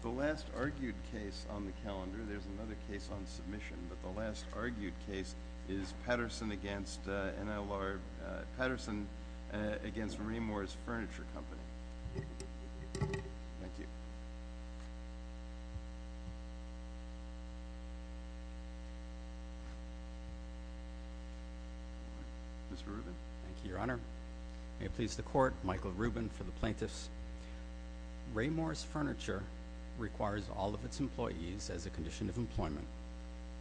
The last argued case on the calendar, there's another case on submission, but the last argued case is Patterson v. Raymours Furniture Company. Thank you. Mr. Rubin. Thank you, Your Honor. May it please the Court, Michael Rubin for the Plaintiffs. Raymours Furniture requires all of its employees, as a condition of employment,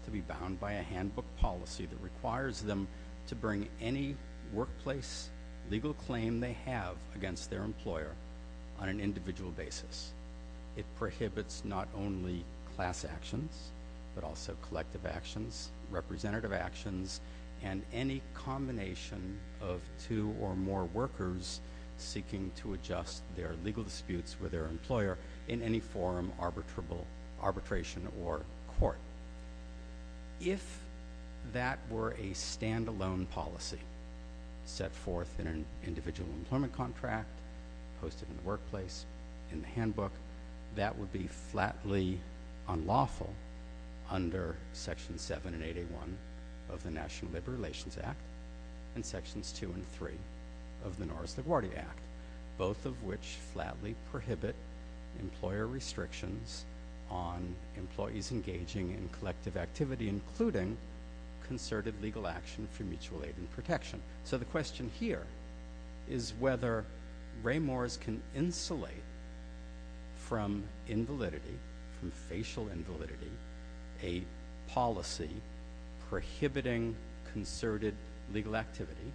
to be bound by a handbook policy that requires them to bring any workplace legal claim they have against their employer on an individual basis. It prohibits not only class actions, but also collective actions, representative actions, and any combination of two or more workers seeking to adjust their legal disputes with their employer in any form of arbitration or court. If that were a stand-alone policy set forth in an individual employment contract, posted in the workplace, in the handbook, that would be flatly unlawful under Sections 7 and 8A1 of the National Labor Relations Act and Sections 2 and 3 of the Norris LaGuardia Act, both of which flatly prohibit employer restrictions on employees engaging in collective activity, including concerted legal action for mutual aid and protection. So the question here is whether Raymours can insulate from invalidity, from facial invalidity, a policy prohibiting concerted legal activity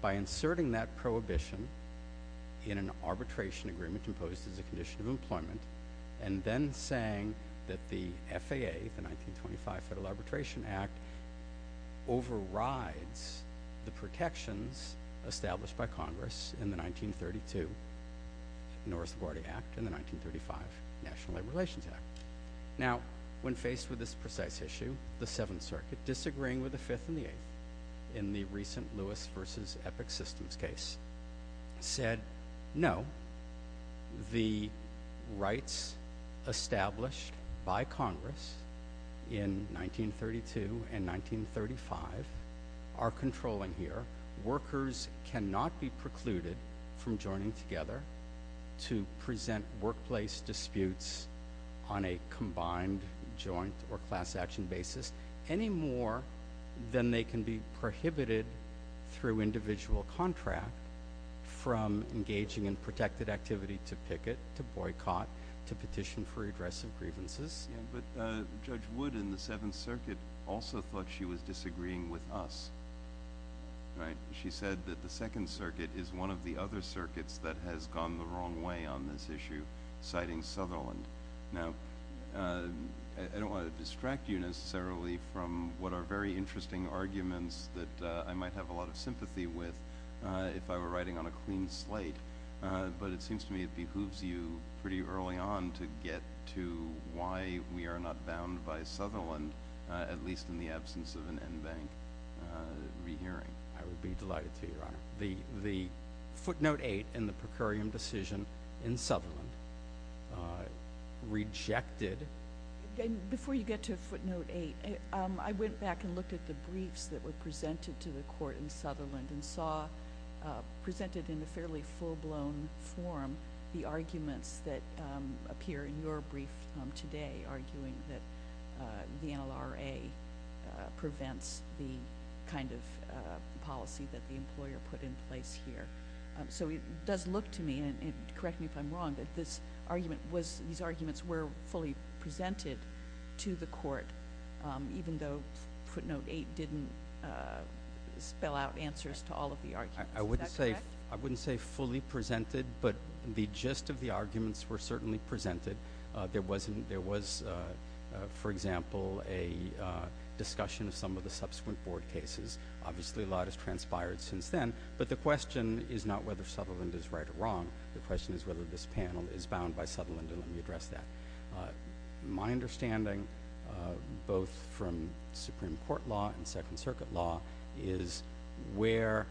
by inserting that prohibition in an arbitration agreement imposed as a condition of employment, and then saying that the FAA, the 1925 Federal Arbitration Act, overrides the protections established by Congress in the 1932 Norris LaGuardia Act and the 1935 National Labor Relations Act. Now, when faced with this precise issue, the Seventh Circuit, disagreeing with the Fifth and the Eighth in the recent Lewis v. Epic Systems case, said, no, the rights established by Congress in 1932 and 1935 are controlling here. Workers cannot be precluded from joining together to present workplace disputes on a combined joint or class action basis any more than they can be prohibited through individual contract from engaging in protected activity to picket, to boycott, to petition for redress of grievances. But Judge Wood in the Seventh Circuit also thought she was disagreeing with us. She said that the Second Circuit is one of the other circuits that has gone the wrong way on this issue, citing Sutherland. Now, I don't want to distract you necessarily from what are very interesting arguments that I might have a lot of sympathy with if I were writing on a clean slate. But it seems to me it behooves you pretty early on to get to why we are not bound by Sutherland, at least in the absence of an en banc rehearing. I would be delighted to, Your Honor. The footnote eight in the per curiam decision in Sutherland rejected. Before you get to footnote eight, I went back and looked at the briefs that were presented to the court in Sutherland and saw presented in a fairly full-blown form the arguments that appear in your brief today arguing that the NLRA prevents the kind of policy that the employer put in place here. So it does look to me, and correct me if I'm wrong, that these arguments were fully presented to the court, even though footnote eight didn't spell out answers to all of the arguments. Is that correct? I wouldn't say fully presented, but the gist of the arguments were certainly presented. There was, for example, a discussion of some of the subsequent board cases. Obviously, a lot has transpired since then, but the question is not whether Sutherland is right or wrong. The question is whether this panel is bound by Sutherland, and let me address that. My understanding, both from Supreme Court law and Second Circuit law, is where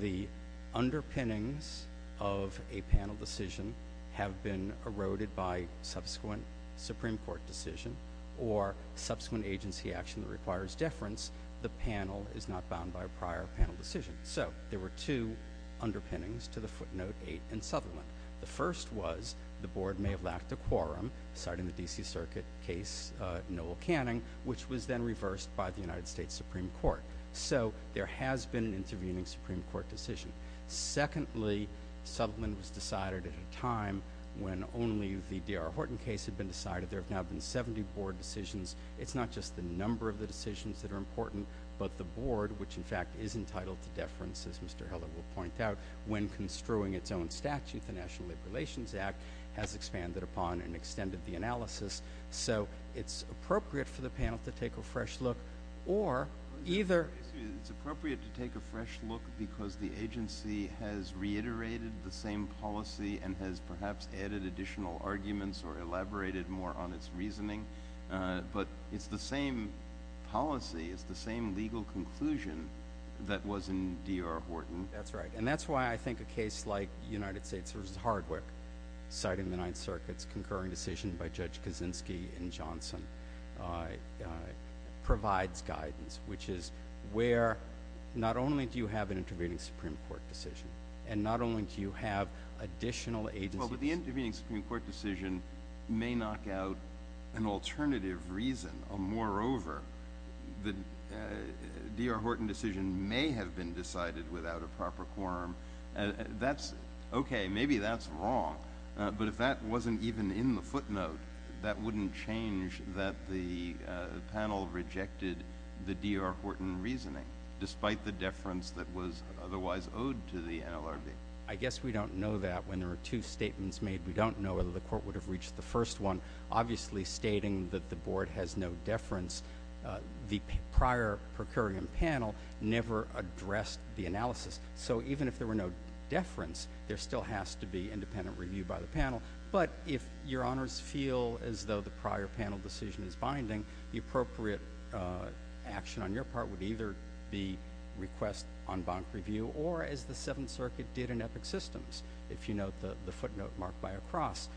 the underpinnings of a panel decision have been eroded by subsequent Supreme Court decision or subsequent agency action that requires deference, the panel is not bound by a prior panel decision. So there were two underpinnings to the footnote eight in Sutherland. The first was the board may have lacked a quorum, citing the D.C. Circuit case Noel Canning, which was then reversed by the United States Supreme Court. So there has been an intervening Supreme Court decision. Secondly, Sutherland was decided at a time when only the D.R. Horton case had been decided. There have now been 70 board decisions. It's not just the number of the decisions that are important, but the board, which, in fact, is entitled to deference, as Mr. Hiller will point out, when construing its own statute, the National Labor Relations Act, has expanded upon and extended the analysis. So it's appropriate for the panel to take a fresh look or either— But it's the same policy. It's the same legal conclusion that was in D.R. Horton. That's right. And that's why I think a case like United States v. Hardwick, citing the Ninth Circuit's concurring decision by Judge Kaczynski and Johnson, provides guidance, which is where not only do you have an intervening Supreme Court decision and not only do you have additional agency— Well, but the intervening Supreme Court decision may knock out an alternative reason. Moreover, the D.R. Horton decision may have been decided without a proper quorum. That's okay. Maybe that's wrong. But if that wasn't even in the footnote, that wouldn't change that the panel rejected the D.R. Horton reasoning, despite the deference that was otherwise owed to the NLRB. I guess we don't know that. When there were two statements made, we don't know whether the Court would have reached the first one. Obviously, stating that the Board has no deference, the prior per curiam panel never addressed the analysis. So even if there were no deference, there still has to be independent review by the panel. But if Your Honors feel as though the prior panel decision is binding, the appropriate action on your part would either be request en banc review or, as the Seventh Circuit did in Epic Systems, if you note the footnote marked by a cross,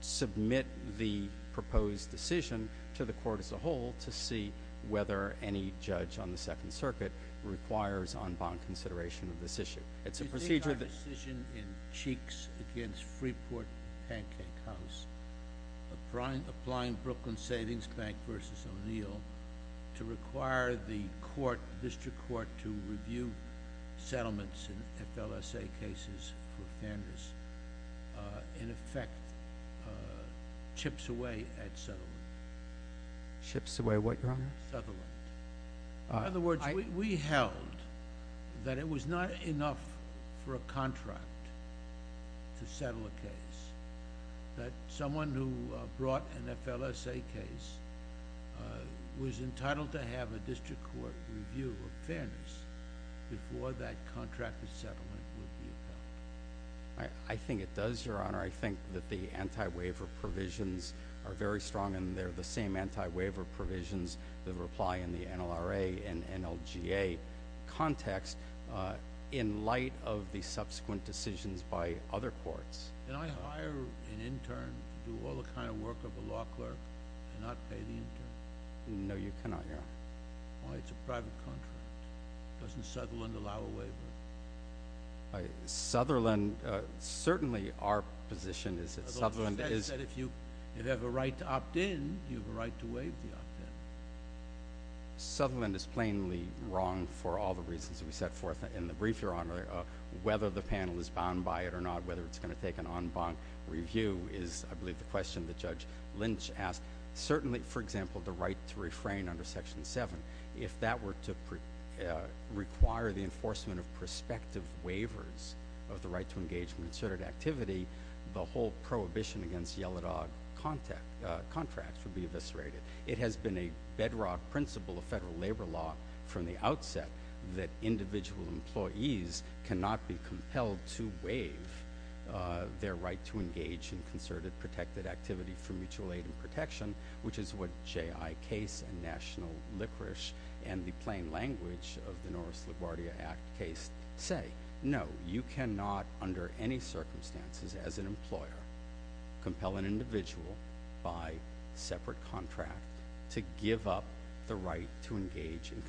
submit the proposed decision to the Court as a whole to see whether any judge on the Second Circuit requires en banc consideration of this issue. It's a procedure that— You take our decision in cheeks against Freeport Pancake House, applying Brooklyn Savings Bank v. O'Neill, to require the District Court to review settlements in FLSA cases for fairness, in effect chips away at settlement. Chips away at what, Your Honor? In other words, we held that it was not enough for a contract to settle a case, that someone who brought an FLSA case was entitled to have a District Court review of fairness before that contract of settlement would be appealed. I think it does, Your Honor. I think that the anti-waiver provisions are very strong, and they're the same anti-waiver provisions that apply in the NLRA and NLGA context in light of the subsequent decisions by other courts. Can I hire an intern to do all the kind of work of a law clerk and not pay the intern? No, you cannot, Your Honor. Why? It's a private contract. It doesn't settle and allow a waiver. Sutherland—certainly our position is that Sutherland is— I don't think they said if you have a right to opt in, you have a right to waive the opt-in. Sutherland is plainly wrong for all the reasons we set forth in the brief, Your Honor. Whether the panel is bound by it or not, whether it's going to take an en banc review is, I believe, the question that Judge Lynch asked. Certainly, for example, the right to refrain under Section 7, if that were to require the enforcement of prospective waivers of the right to engagement and asserted activity, the whole prohibition against yellow dog contracts would be eviscerated. It has been a bedrock principle of federal labor law from the outset that individual employees cannot be compelled to waive their right to engage in concerted protected activity for mutual aid and protection, which is what J.I. Case and National Liquorice and the plain language of the Norris-LaGuardia Act case say. No, you cannot, under any circumstances, as an employer, compel an individual by separate contract to give up the right to engage in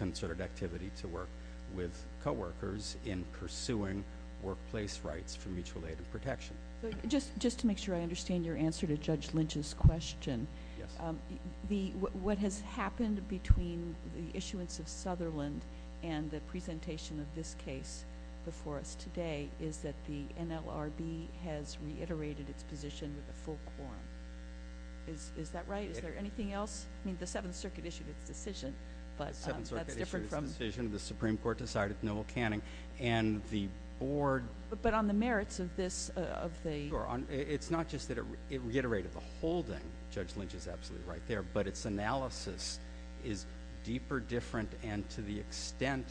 concerted activity to work with coworkers in pursuing workplace rights for mutual aid and protection. Just to make sure I understand your answer to Judge Lynch's question. Yes. What has happened between the issuance of Sutherland and the presentation of this case before us today is that the NLRB has reiterated its position with a full quorum. Is that right? Is there anything else? I mean, the Seventh Circuit issued its decision, but that's different from— The Seventh Circuit issued its decision. The Supreme Court decided with Noel Canning, and the board— But on the merits of this, of the— It's not just that it reiterated the holding. Judge Lynch is absolutely right there. But its analysis is deeper, different, and to the extent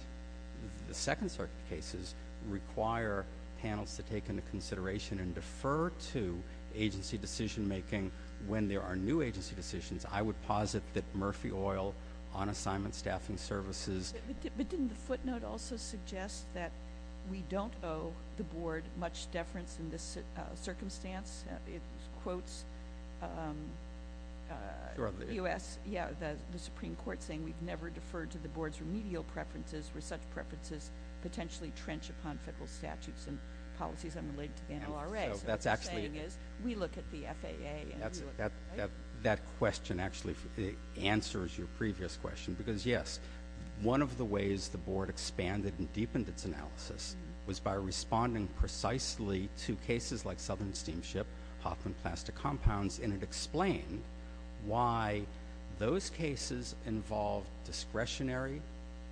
the Second Circuit cases require panels to take into consideration and defer to agency decision-making when there are new agency decisions, I would posit that Murphy Oil, on-assignment staffing services— But didn't the footnote also suggest that we don't owe the board much deference in this circumstance? It quotes the U.S. Supreme Court saying we've never deferred to the board's remedial preferences where such preferences potentially trench upon federal statutes and policies unrelated to the NLRA. So what you're saying is we look at the FAA and we look— That question actually answers your previous question because, yes, one of the ways the board expanded and deepened its analysis was by responding precisely to cases like Southern Steamship, Hoffman Plastic Compounds, and it explained why those cases involved discretionary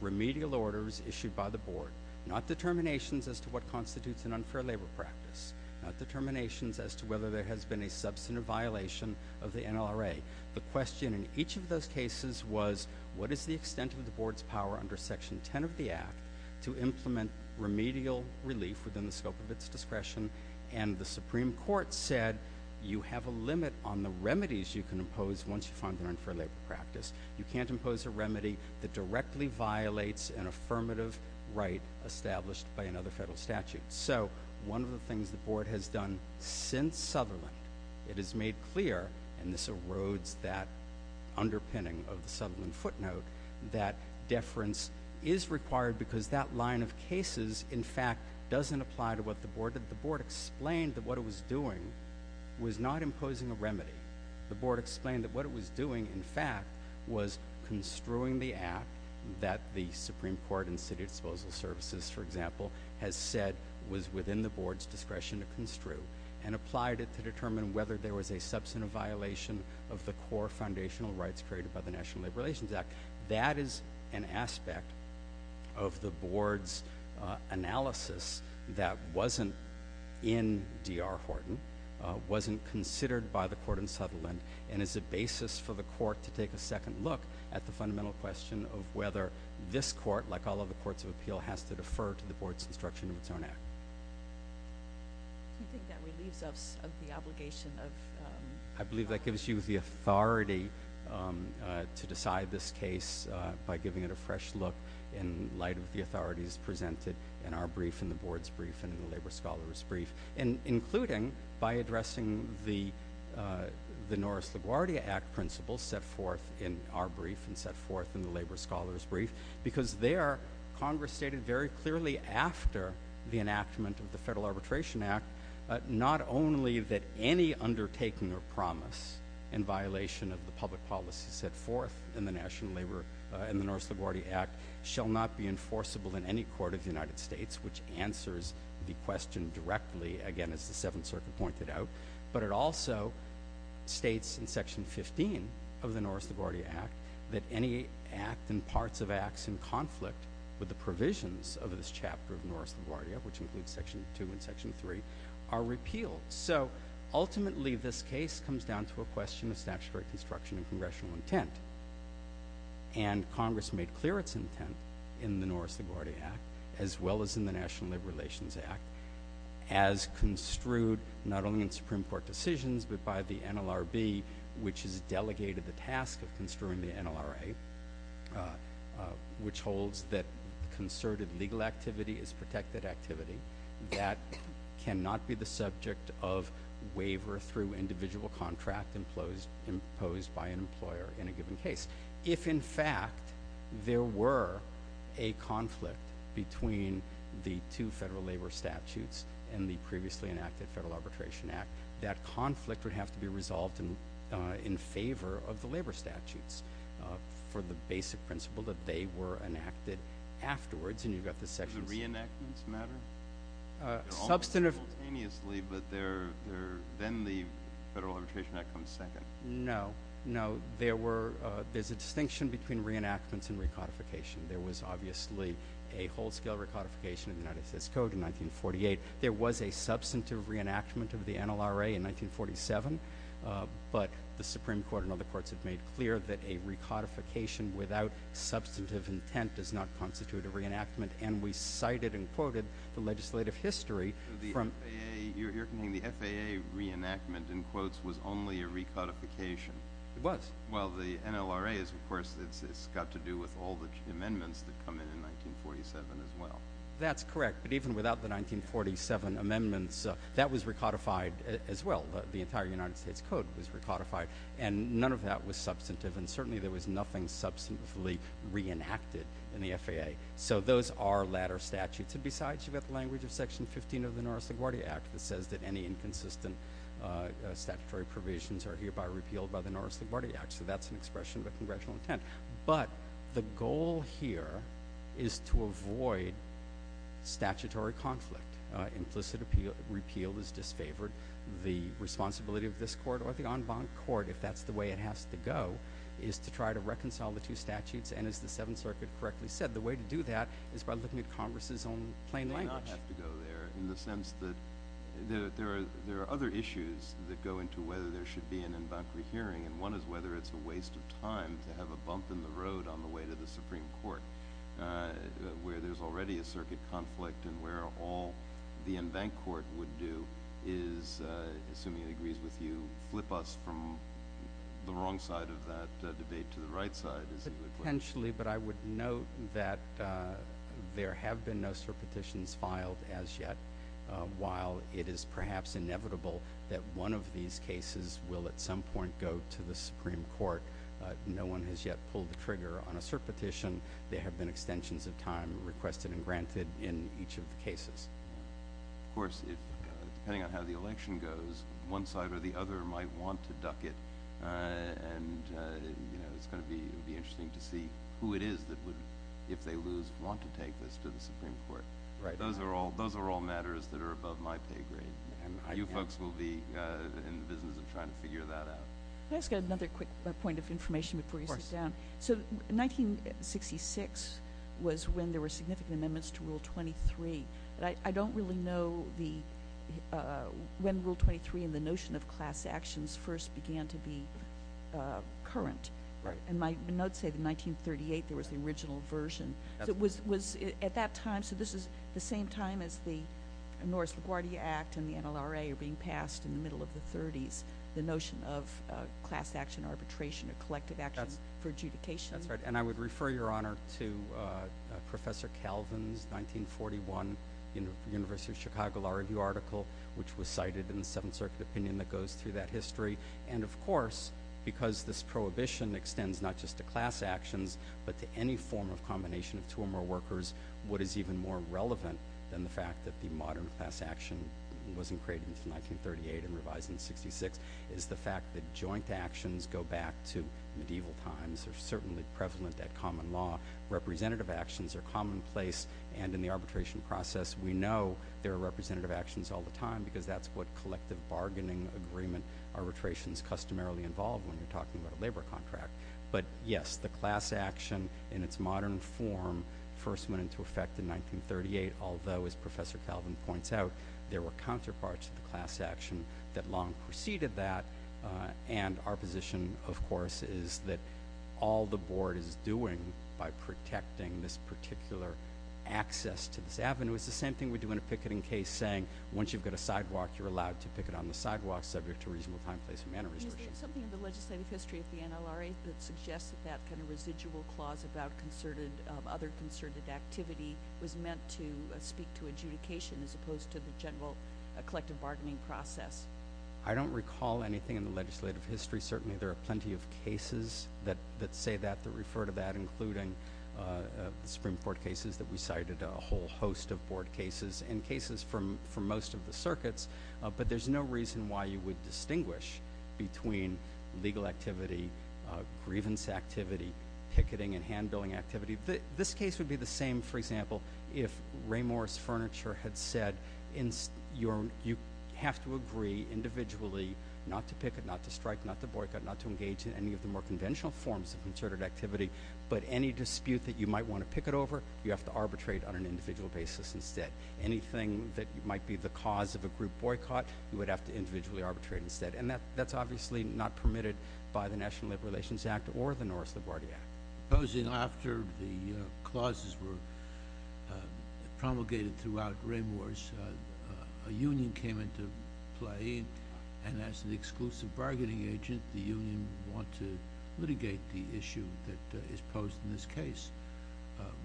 remedial orders issued by the board, not determinations as to what constitutes an unfair labor practice, not determinations as to whether there has been a substantive violation of the NLRA. The question in each of those cases was what is the extent of the board's power under Section 10 of the Act to implement remedial relief within the scope of its discretion? And the Supreme Court said you have a limit on the remedies you can impose once you find an unfair labor practice. You can't impose a remedy that directly violates an affirmative right established by another federal statute. So one of the things the board has done since Sutherland, it has made clear, and this erodes that underpinning of the Sutherland footnote, that deference is required because that line of cases in fact doesn't apply to what the board did. The board explained that what it was doing was not imposing a remedy. The board explained that what it was doing, in fact, was construing the Act that the Supreme Court and city disposal services, for example, has said was within the board's discretion to construe, and applied it to determine whether there was a substantive violation of the core foundational rights created by the National Labor Relations Act. That is an aspect of the board's analysis that wasn't in D.R. Horton, wasn't considered by the court in Sutherland, and is a basis for the court to take a second look at the fundamental question of whether this court, like all other courts of appeal, has to defer to the board's construction of its own Act. Do you think that relieves us of the obligation of... I believe that gives you the authority to decide this case by giving it a fresh look in light of the authorities presented in our brief, in the board's brief, and in the labor scholar's brief. Including by addressing the Norris LaGuardia Act principles set forth in our brief and set forth in the labor scholar's brief, because there, Congress stated very clearly after the enactment of the Federal Arbitration Act, not only that any undertaking or promise in violation of the public policies set forth in the National Labor and the Norris LaGuardia Act shall not be enforceable in any court of the United States, which answers the question directly, again, as the Seventh Circuit pointed out, but it also states in Section 15 of the Norris LaGuardia Act that any act and parts of acts in conflict with the provisions of this chapter of Norris LaGuardia, which includes Section 2 and Section 3, are repealed. Ultimately, this case comes down to a question of statutory construction and congressional intent. Congress made clear its intent in the Norris LaGuardia Act, as well as in the National Labor Relations Act, as construed not only in Supreme Court decisions, but by the NLRB, which has delegated the task of construing the NLRA, which holds that concerted legal activity is protected activity. That cannot be the subject of waiver through individual contract imposed by an employer in a given case. If, in fact, there were a conflict between the two federal labor statutes and the previously enacted Federal Arbitration Act, that conflict would have to be resolved in favor of the labor statutes for the basic principle that they were enacted afterwards. Does the reenactments matter? They're almost simultaneously, but then the Federal Arbitration Act comes second. No. No. There's a distinction between reenactments and recodification. There was obviously a whole-scale recodification of the United States Code in 1948. There was a substantive reenactment of the NLRA in 1947, but the Supreme Court and other courts have made clear that a recodification without substantive intent does not constitute a reenactment, and we cited and quoted the legislative history. You're saying the FAA reenactment, in quotes, was only a recodification? It was. Well, the NLRA, of course, it's got to do with all the amendments that come in in 1947, as well. That's correct, but even without the 1947 amendments, that was recodified as well. The entire United States Code was recodified, and none of that was substantive, and certainly there was nothing substantively reenacted in the FAA. So those are latter statutes. And besides, you've got the language of Section 15 of the Norris-LaGuardia Act that says that any inconsistent statutory provisions are hereby repealed by the Norris-LaGuardia Act, so that's an expression of a congressional intent. But the goal here is to avoid statutory conflict. Implicit repeal is disfavored. The responsibility of this court or the en banc court, if that's the way it has to go, is to try to reconcile the two statutes, and as the Seventh Circuit correctly said, the way to do that is by looking at Congress's own plain language. In the sense that there are other issues that go into whether there should be an en banc rehearing, and one is whether it's a waste of time to have a bump in the road on the way to the Supreme Court, where there's already a circuit conflict and where all the en banc court would do is, assuming it agrees with you, flip us from the wrong side of that debate to the right side. Potentially, but I would note that there have been no cert petitions filed as yet. While it is perhaps inevitable that one of these cases will at some point go to the Supreme Court, no one has yet pulled the trigger on a cert petition. There have been extensions of time requested and granted in each of the cases. Of course, depending on how the election goes, one side or the other might want to duck it, and it's going to be interesting to see who it is that would, if they lose, want to take this to the Supreme Court. Those are all matters that are above my pay grade, and you folks will be in the business of trying to figure that out. Can I just get another quick point of information before you sit down? Of course. 1966 was when there were significant amendments to Rule 23, but I don't really know when Rule 23 and the notion of class actions first began to be current. Right. In my notes say that in 1938 there was the original version. Absolutely. At that time, so this is the same time as the Norris LaGuardia Act and the NLRA are being passed in the middle of the 30s, the notion of class action arbitration or collective action for adjudication. That's right, and I would refer your Honor to Professor Calvin's 1941 University of Chicago Law Review article, which was cited in the Seventh Circuit opinion that goes through that history. And, of course, because this prohibition extends not just to class actions but to any form of combination of two or more workers, what is even more relevant than the fact that the modern class action wasn't created until 1938 and revised in 66 is the fact that joint actions go back to medieval times. They're certainly prevalent at common law. Representative actions are commonplace. And in the arbitration process, we know there are representative actions all the time because that's what collective bargaining agreement arbitrations customarily involve when you're talking about a labor contract. But, yes, the class action in its modern form first went into effect in 1938, although, as Professor Calvin points out, there were counterparts to the class action that long preceded that. And our position, of course, is that all the Board is doing by protecting this particular access to this avenue is the same thing we do in a picketing case, saying once you've got a sidewalk, you're allowed to picket on the sidewalk subject to reasonable time, place, and manner restrictions. Is there something in the legislative history of the NLRA that suggests that that kind of residual clause about other concerted activity was meant to speak to adjudication as opposed to the general collective bargaining process? I don't recall anything in the legislative history. Certainly, there are plenty of cases that say that, that refer to that, including the Supreme Court cases that we cited, a whole host of Board cases, and cases from most of the circuits. But there's no reason why you would distinguish between legal activity, grievance activity, picketing, and hand-billing activity. This case would be the same, for example, if Ray Morris Furniture had said, you have to agree individually not to picket, not to strike, not to boycott, not to engage in any of the more conventional forms of concerted activity. But any dispute that you might want to picket over, you have to arbitrate on an individual basis instead. Anything that might be the cause of a group boycott, you would have to individually arbitrate instead. And that's obviously not permitted by the National Labor Relations Act or the Norris-Laguardia Act. Supposing after the clauses were promulgated throughout Ray Morris, a union came into play, and as an exclusive bargaining agent, the union would want to litigate the issue that is posed in this case.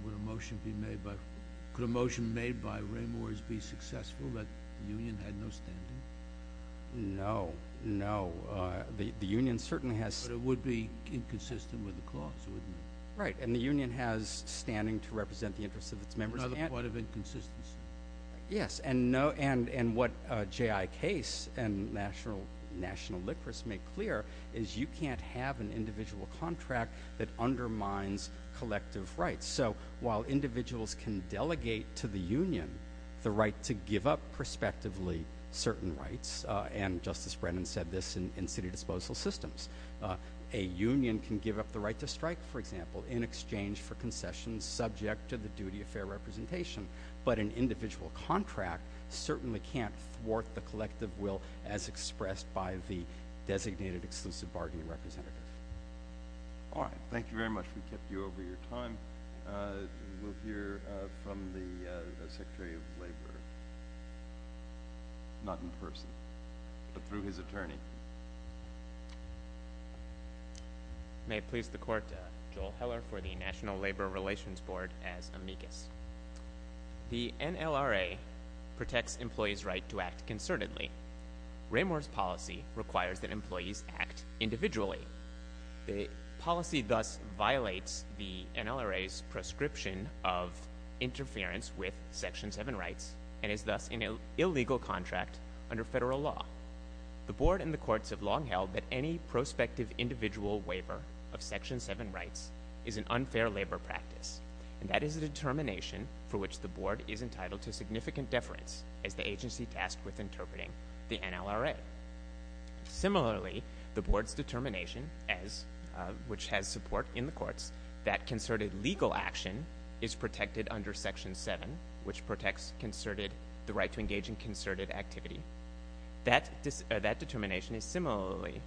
Would a motion made by Ray Morris be successful, but the union had no standing? No, no. But it would be inconsistent with the clause, wouldn't it? Right, and the union has standing to represent the interests of its members. Another point of inconsistency. Yes, and what J.I. Case and National Liquorists make clear is you can't have an individual contract that undermines collective rights. So while individuals can delegate to the union the right to give up prospectively certain rights, and Justice Brennan said this in city disposal systems, a union can give up the right to strike, for example, in exchange for concessions subject to the duty of fair representation. But an individual contract certainly can't thwart the collective will as expressed by the designated exclusive bargaining representative. All right, thank you very much. We kept you over your time. We'll hear from the Secretary of Labor, not in person, but through his attorney. May it please the Court, Joel Heller for the National Labor Relations Board as amicus. The NLRA protects employees' right to act concertedly. Ramor's policy requires that employees act individually. The policy thus violates the NLRA's prescription of interference with Section 7 rights and is thus an illegal contract under federal law. The board and the courts have long held that any prospective individual waiver of Section 7 rights is an unfair labor practice, and that is a determination for which the board is entitled to significant deference as the agency tasked with interpreting the NLRA. Similarly, the board's determination, which has support in the courts, that concerted legal action is protected under Section 7, which protects the right to engage in concerted activity. That determination is similarly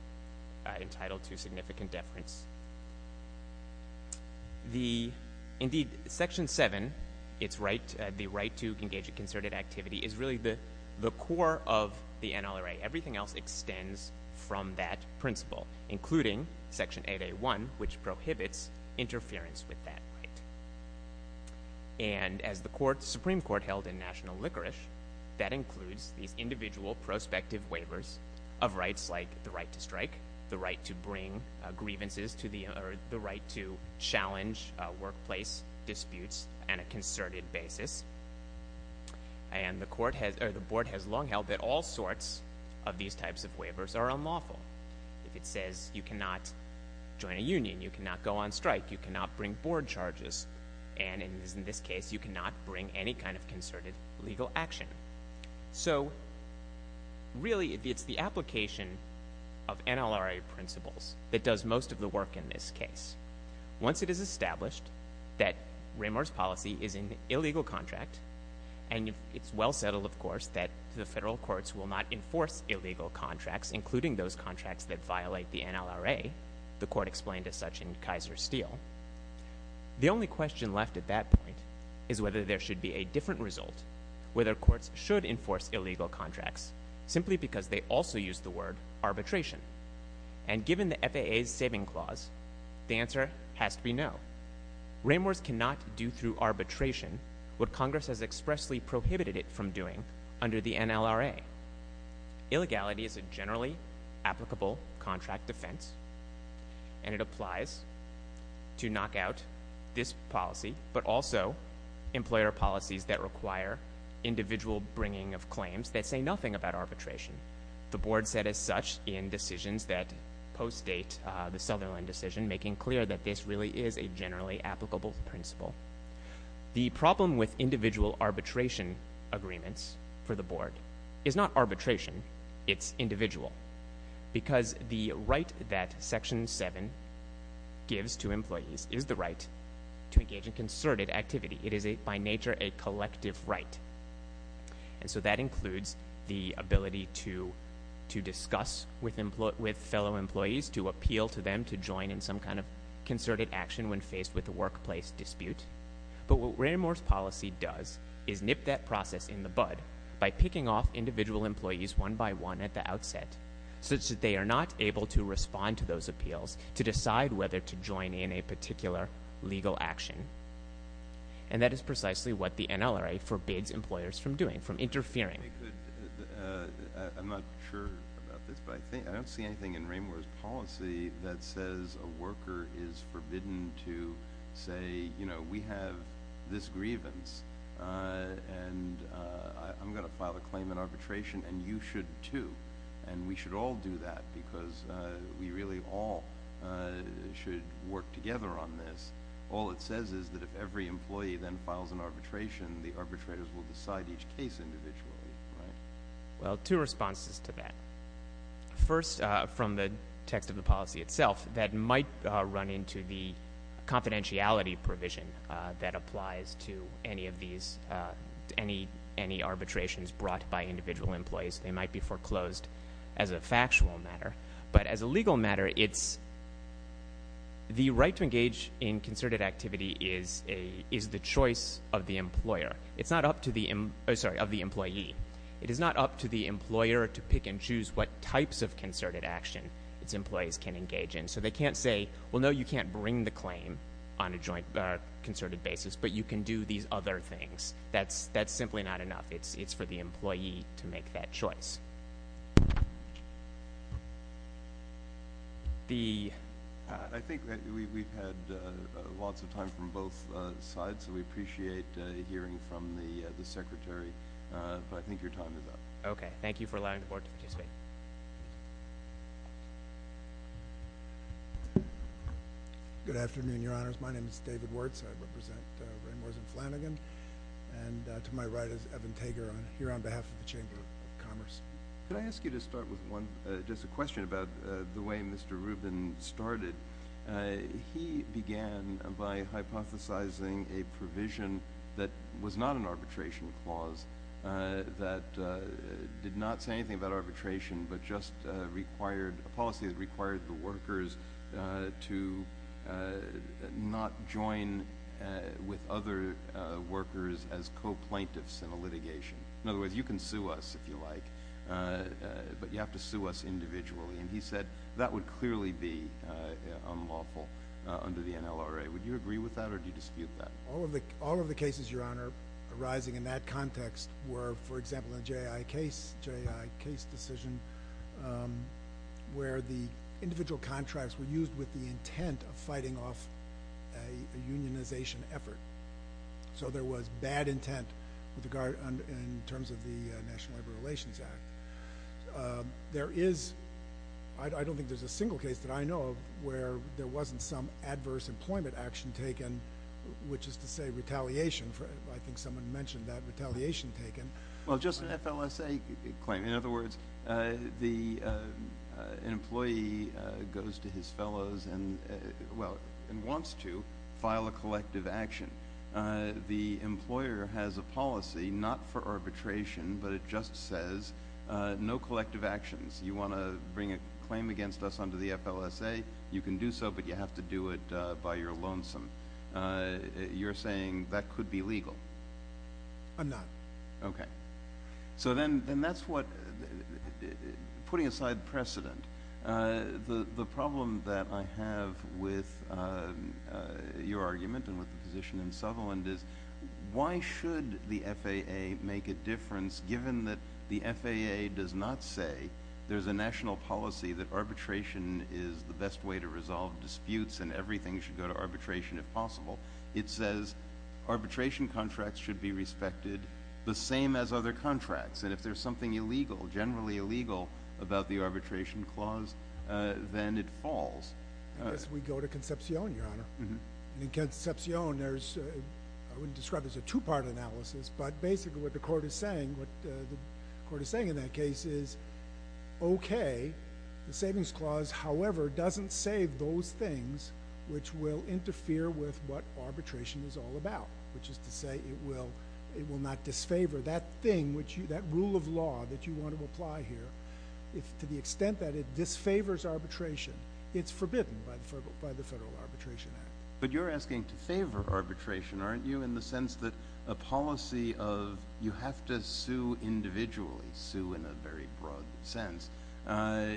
entitled to significant deference. Indeed, Section 7, the right to engage in concerted activity, is really the core of the NLRA. Everything else extends from that principle, including Section 8A1, which prohibits interference with that right. And as the Supreme Court held in national licorice, that includes these individual prospective waivers of rights like the right to strike, the right to bring grievances, or the right to challenge workplace disputes on a concerted basis. And the board has long held that all sorts of these types of waivers are unlawful. If it says you cannot join a union, you cannot go on strike, you cannot bring board charges, and in this case, you cannot bring any kind of concerted legal action. So really, it's the application of NLRA principles that does most of the work in this case. Once it is established that Raymour's policy is an illegal contract, and it's well settled, of course, that the federal courts will not enforce illegal contracts, including those contracts that violate the NLRA, the court explained as such in Kaiser Steel. The only question left at that point is whether there should be a different result, whether courts should enforce illegal contracts, simply because they also use the word arbitration. And given the FAA's saving clause, the answer has to be no. Raymour's cannot do through arbitration what Congress has expressly prohibited it from doing under the NLRA. Illegality is a generally applicable contract defense, and it applies to knock out this policy, but also employer policies that require individual bringing of claims that say nothing about arbitration. The board said as such in decisions that post-date the Sutherland decision, making clear that this really is a generally applicable principle. The problem with individual arbitration agreements for the board is not arbitration. It's individual, because the right that Section 7 gives to employees is the right to engage in concerted activity. It is, by nature, a collective right. And so that includes the ability to discuss with fellow employees, to appeal to them to join in some kind of concerted action when faced with a workplace dispute. But what Raymour's policy does is nip that process in the bud by picking off individual employees one by one at the outset, such that they are not able to respond to those appeals to decide whether to join in a particular legal action. And that is precisely what the NLRA forbids employers from doing, from interfering. I'm not sure about this, but I don't see anything in Raymour's policy that says a worker is forbidden to say, you know, we have this grievance, and I'm going to file a claim in arbitration, and you should too. And we should all do that, because we really all should work together on this. All it says is that if every employee then files an arbitration, the arbitrators will decide each case individually, right? Well, two responses to that. First, from the text of the policy itself, that might run into the confidentiality provision that applies to any of these, any arbitrations brought by individual employees. They might be foreclosed as a factual matter. But as a legal matter, the right to engage in concerted activity is the choice of the employer. It's not up to the employee. It is not up to the employer to pick and choose what types of concerted action its employees can engage in. So they can't say, well, no, you can't bring the claim on a concerted basis, but you can do these other things. That's simply not enough. It's for the employee to make that choice. I think we've had lots of time from both sides, so we appreciate hearing from the Secretary. But I think your time is up. Okay. Thank you for allowing the Board to participate. Good afternoon, Your Honors. My name is David Wirtz. I represent Rainbows and Flanagan. And to my right is Evan Tager here on behalf of the Chamber of Commerce. Could I ask you to start with just a question about the way Mr. Rubin started? He began by hypothesizing a provision that was not an arbitration clause, that did not say anything about arbitration, but just a policy that required the workers to not join with other workers as co-plaintiffs in a litigation. In other words, you can sue us if you like, but you have to sue us individually. And he said that would clearly be unlawful under the NLRA. Would you agree with that, or do you dispute that? All of the cases, Your Honor, arising in that context were, for example, a J.I. case decision where the individual contracts were used with the intent of fighting off a unionization effort. So there was bad intent in terms of the National Labor Relations Act. I don't think there's a single case that I know of where there wasn't some adverse employment action taken, which is to say retaliation. I think someone mentioned that, retaliation taken. Well, just an FLSA claim. In other words, an employee goes to his fellows and wants to file a collective action. The employer has a policy not for arbitration, but it just says no collective actions. You want to bring a claim against us under the FLSA? You can do so, but you have to do it by your lonesome. You're saying that could be legal? I'm not. Okay. So then that's what, putting aside precedent, the problem that I have with your argument and with the position in Sutherland is why should the FAA make a difference, given that the FAA does not say there's a national policy that arbitration is the best way to resolve disputes and everything should go to arbitration if possible. It says arbitration contracts should be respected the same as other contracts, and if there's something illegal, generally illegal, about the arbitration clause, then it falls. Unless we go to Concepcion, Your Honor. In Concepcion, I wouldn't describe it as a two-part analysis, but basically what the court is saying in that case is, okay, the savings clause, however, doesn't say those things which will interfere with what arbitration is all about, which is to say it will not disfavor that thing, that rule of law that you want to apply here. To the extent that it disfavors arbitration, it's forbidden by the Federal Arbitration Act. But you're asking to favor arbitration, aren't you, in the sense that a policy of you have to sue individually, sue in a very broad sense,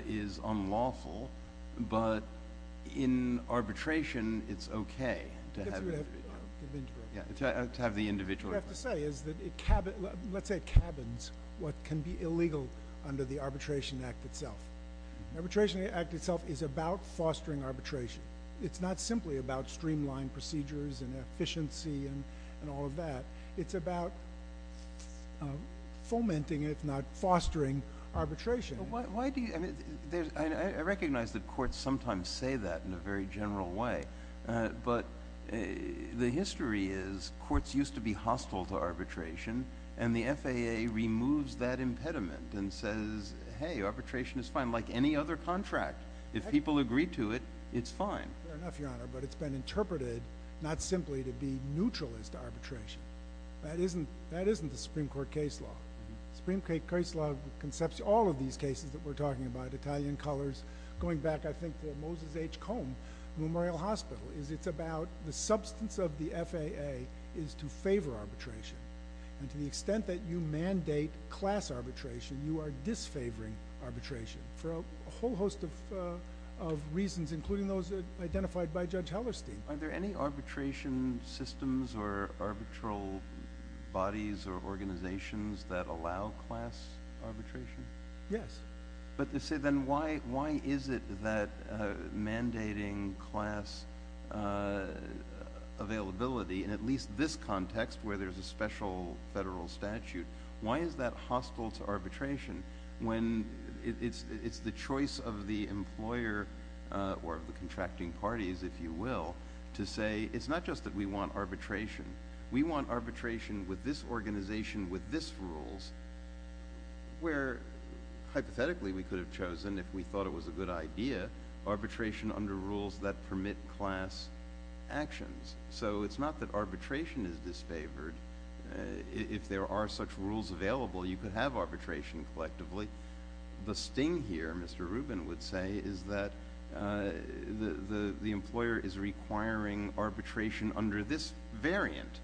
is unlawful, but in arbitration it's okay to have the individual. What I have to say is that it cabins what can be illegal under the Arbitration Act itself. The Arbitration Act itself is about fostering arbitration. It's not simply about streamlined procedures and efficiency and all of that. It's about fomenting, if not fostering, arbitration. I recognize that courts sometimes say that in a very general way, but the history is courts used to be hostile to arbitration, and the FAA removes that impediment and says, hey, arbitration is fine, like any other contract. If people agree to it, it's fine. Fair enough, Your Honor, but it's been interpreted not simply to be neutral as to arbitration. That isn't the Supreme Court case law. The Supreme Court case law concepts all of these cases that we're talking about, Italian colors, going back, I think, to Moses H. Combe, Memorial Hospital, is it's about the substance of the FAA is to favor arbitration. And to the extent that you mandate class arbitration, you are disfavoring arbitration. For a whole host of reasons, including those identified by Judge Hellerstein. Are there any arbitration systems or arbitral bodies or organizations that allow class arbitration? Yes. But then why is it that mandating class availability, in at least this context where there's a special federal statute, why is that hostile to arbitration when it's the choice of the employer or the contracting parties, if you will, to say it's not just that we want arbitration. We want arbitration with this organization, with this rules, where hypothetically we could have chosen, if we thought it was a good idea, arbitration under rules that permit class actions. So it's not that arbitration is disfavored. If there are such rules available, you could have arbitration collectively. The sting here, Mr. Rubin would say, is that the employer is requiring arbitration under this variant,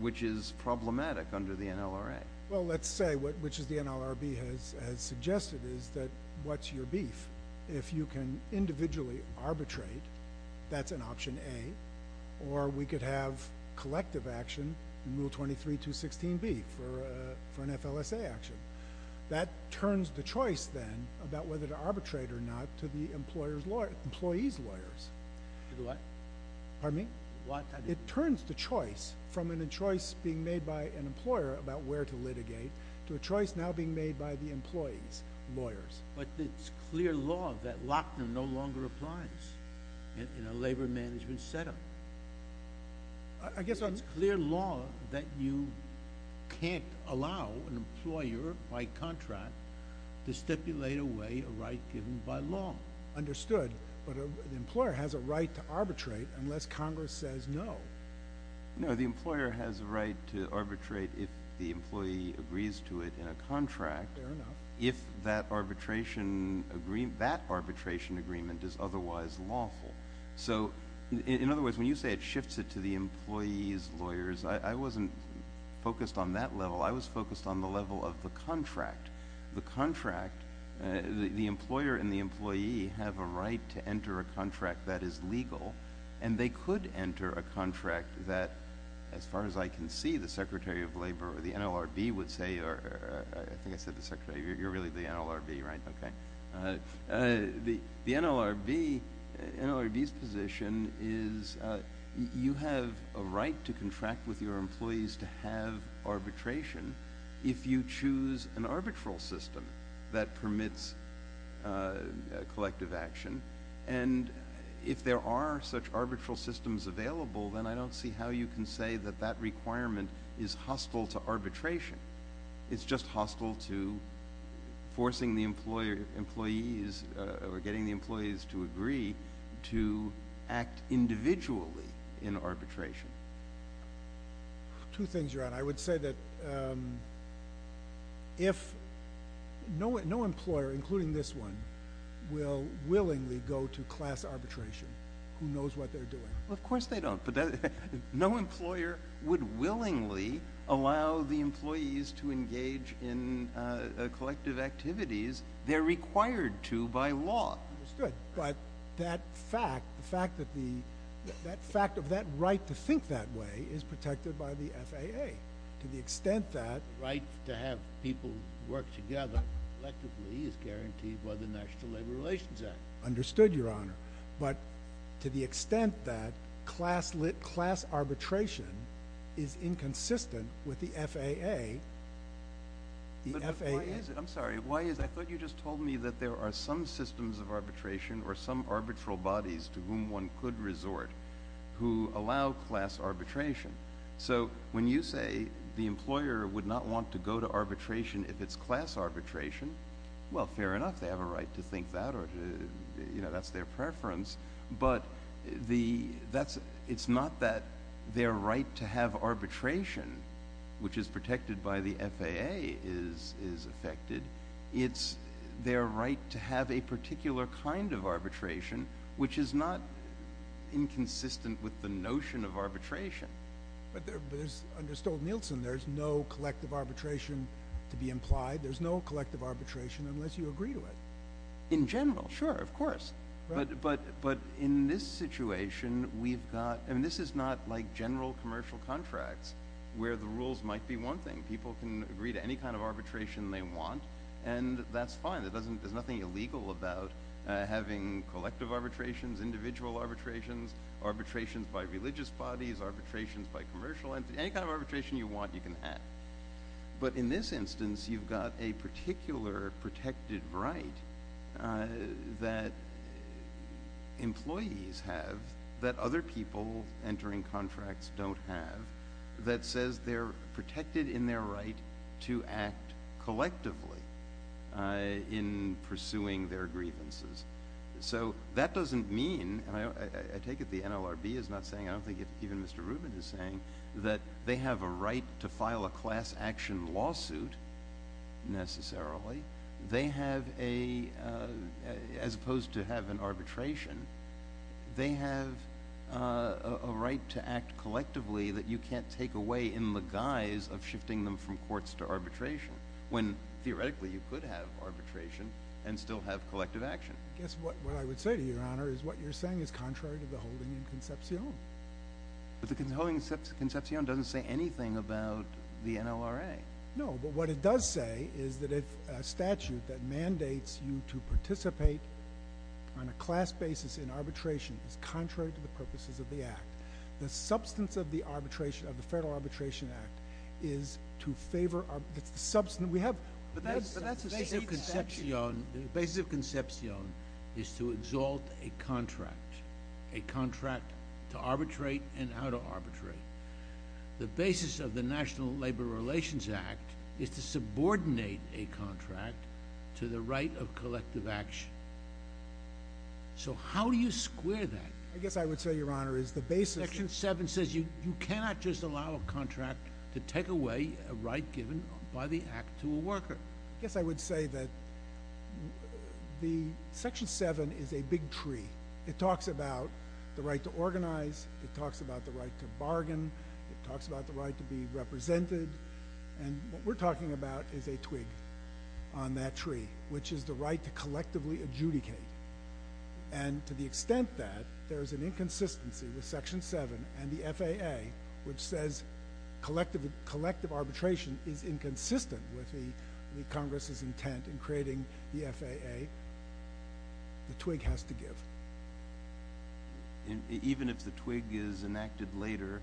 which is problematic under the NLRA. Well, let's say, which the NLRB has suggested, is that what's your beef? If you can individually arbitrate, that's an option A. Or we could have collective action in Rule 23.216B for an FLSA action. That turns the choice, then, about whether to arbitrate or not to the employee's lawyers. To the what? Pardon me? What? It turns the choice from a choice being made by an employer about where to litigate to a choice now being made by the employee's lawyers. But it's clear law that Lochner no longer applies in a labor management setup. It's clear law that you can't allow an employer by contract to stipulate away a right given by law. Understood. But the employer has a right to arbitrate unless Congress says no. No, the employer has a right to arbitrate if the employee agrees to it in a contract. Fair enough. If that arbitration agreement is otherwise lawful. In other words, when you say it shifts it to the employee's lawyers, I wasn't focused on that level. I was focused on the level of the contract. The employer and the employee have a right to enter a contract that is legal, and they could enter a contract that, as far as I can see, the Secretary of Labor or the NLRB would say, or I think I said to the Secretary, you're really the NLRB, right? Okay. The NLRB's position is you have a right to contract with your employees to have arbitration if you choose an arbitral system that permits collective action. And if there are such arbitral systems available, then I don't see how you can say that that requirement is hostile to arbitration. It's just hostile to forcing the employees or getting the employees to agree to act individually in arbitration. Two things you're on. I would say that if no employer, including this one, will willingly go to class arbitration, who knows what they're doing? Well, of course they don't. But no employer would willingly allow the employees to engage in collective activities they're required to by law. Understood. But that fact, the fact that the – that fact of that right to think that way is protected by the FAA to the extent that – The right to have people work together collectively is guaranteed by the National Labor Relations Act. Understood, Your Honor. But to the extent that class arbitration is inconsistent with the FAA, the FAA – But why is it? I'm sorry. Why is it? I thought you just told me that there are some systems of arbitration or some arbitral bodies to whom one could resort who allow class arbitration. So when you say the employer would not want to go to arbitration if it's class arbitration, well, fair enough. They have a right to think that or – you know, that's their preference. But the – that's – it's not that their right to have arbitration, which is protected by the FAA, is affected. It's their right to have a particular kind of arbitration, which is not inconsistent with the notion of arbitration. But there's – under Stolt-Nielsen, there's no collective arbitration to be implied. There's no collective arbitration unless you agree to it. In general, sure, of course. But in this situation, we've got – I mean, this is not like general commercial contracts where the rules might be one thing. People can agree to any kind of arbitration they want, and that's fine. There's nothing illegal about having collective arbitrations, individual arbitrations, arbitrations by religious bodies, arbitrations by commercial – any kind of arbitration you want, you can have. But in this instance, you've got a particular protected right that employees have that other people entering contracts don't have that says they're protected in their right to act collectively in pursuing their grievances. So that doesn't mean – and I take it the NLRB is not saying – I don't think even Mr. Rubin is saying that they have a right to file a class action lawsuit necessarily. They have a – as opposed to have an arbitration, they have a right to act collectively that you can't take away in the guise of shifting them from courts to arbitration when theoretically you could have arbitration and still have collective action. I guess what I would say to you, Your Honor, is what you're saying is contrary to the holding in Concepcion. But the holding in Concepcion doesn't say anything about the NLRA. No, but what it does say is that if a statute that mandates you to participate on a class basis in arbitration is contrary to the purposes of the Act, the substance of the arbitration – of the Federal Arbitration Act is to favor – that's the substance that we have. But that's a state statute. The basis of Concepcion is to exalt a contract, a contract to arbitrate and how to arbitrate. The basis of the National Labor Relations Act is to subordinate a contract to the right of collective action. So how do you square that? I guess I would say, Your Honor, is the basis – Section 7 says you cannot just allow a contract to take away a right given by the Act to a worker. I guess I would say that the – Section 7 is a big tree. It talks about the right to organize. It talks about the right to bargain. It talks about the right to be represented. And what we're talking about is a twig on that tree, which is the right to collectively adjudicate. And to the extent that there is an inconsistency with Section 7 and the FAA, which says collective arbitration is inconsistent with the Congress's intent in creating the FAA, the twig has to give. Even if the twig is enacted later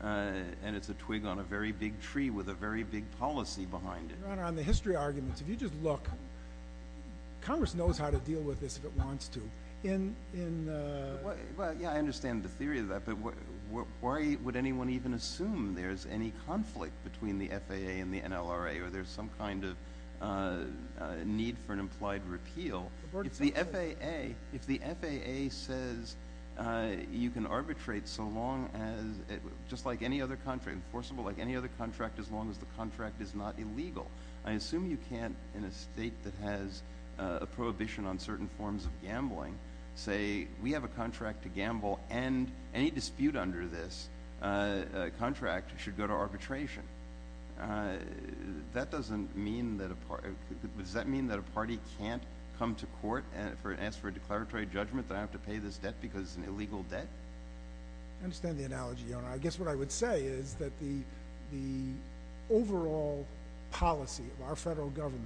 and it's a twig on a very big tree with a very big policy behind it? Your Honor, on the history arguments, if you just look, Congress knows how to deal with this if it wants to. Yeah, I understand the theory of that, but why would anyone even assume there's any conflict between the FAA and the NLRA or there's some kind of need for an implied repeal? If the FAA says you can arbitrate just like any other contract, enforceable like any other contract as long as the contract is not illegal, I assume you can't, in a state that has a prohibition on certain forms of gambling, say we have a contract to gamble and any dispute under this contract should go to arbitration. Does that mean that a party can't come to court and ask for a declaratory judgment that I have to pay this debt because it's an illegal debt? I understand the analogy, Your Honor. I guess what I would say is that the overall policy of our federal government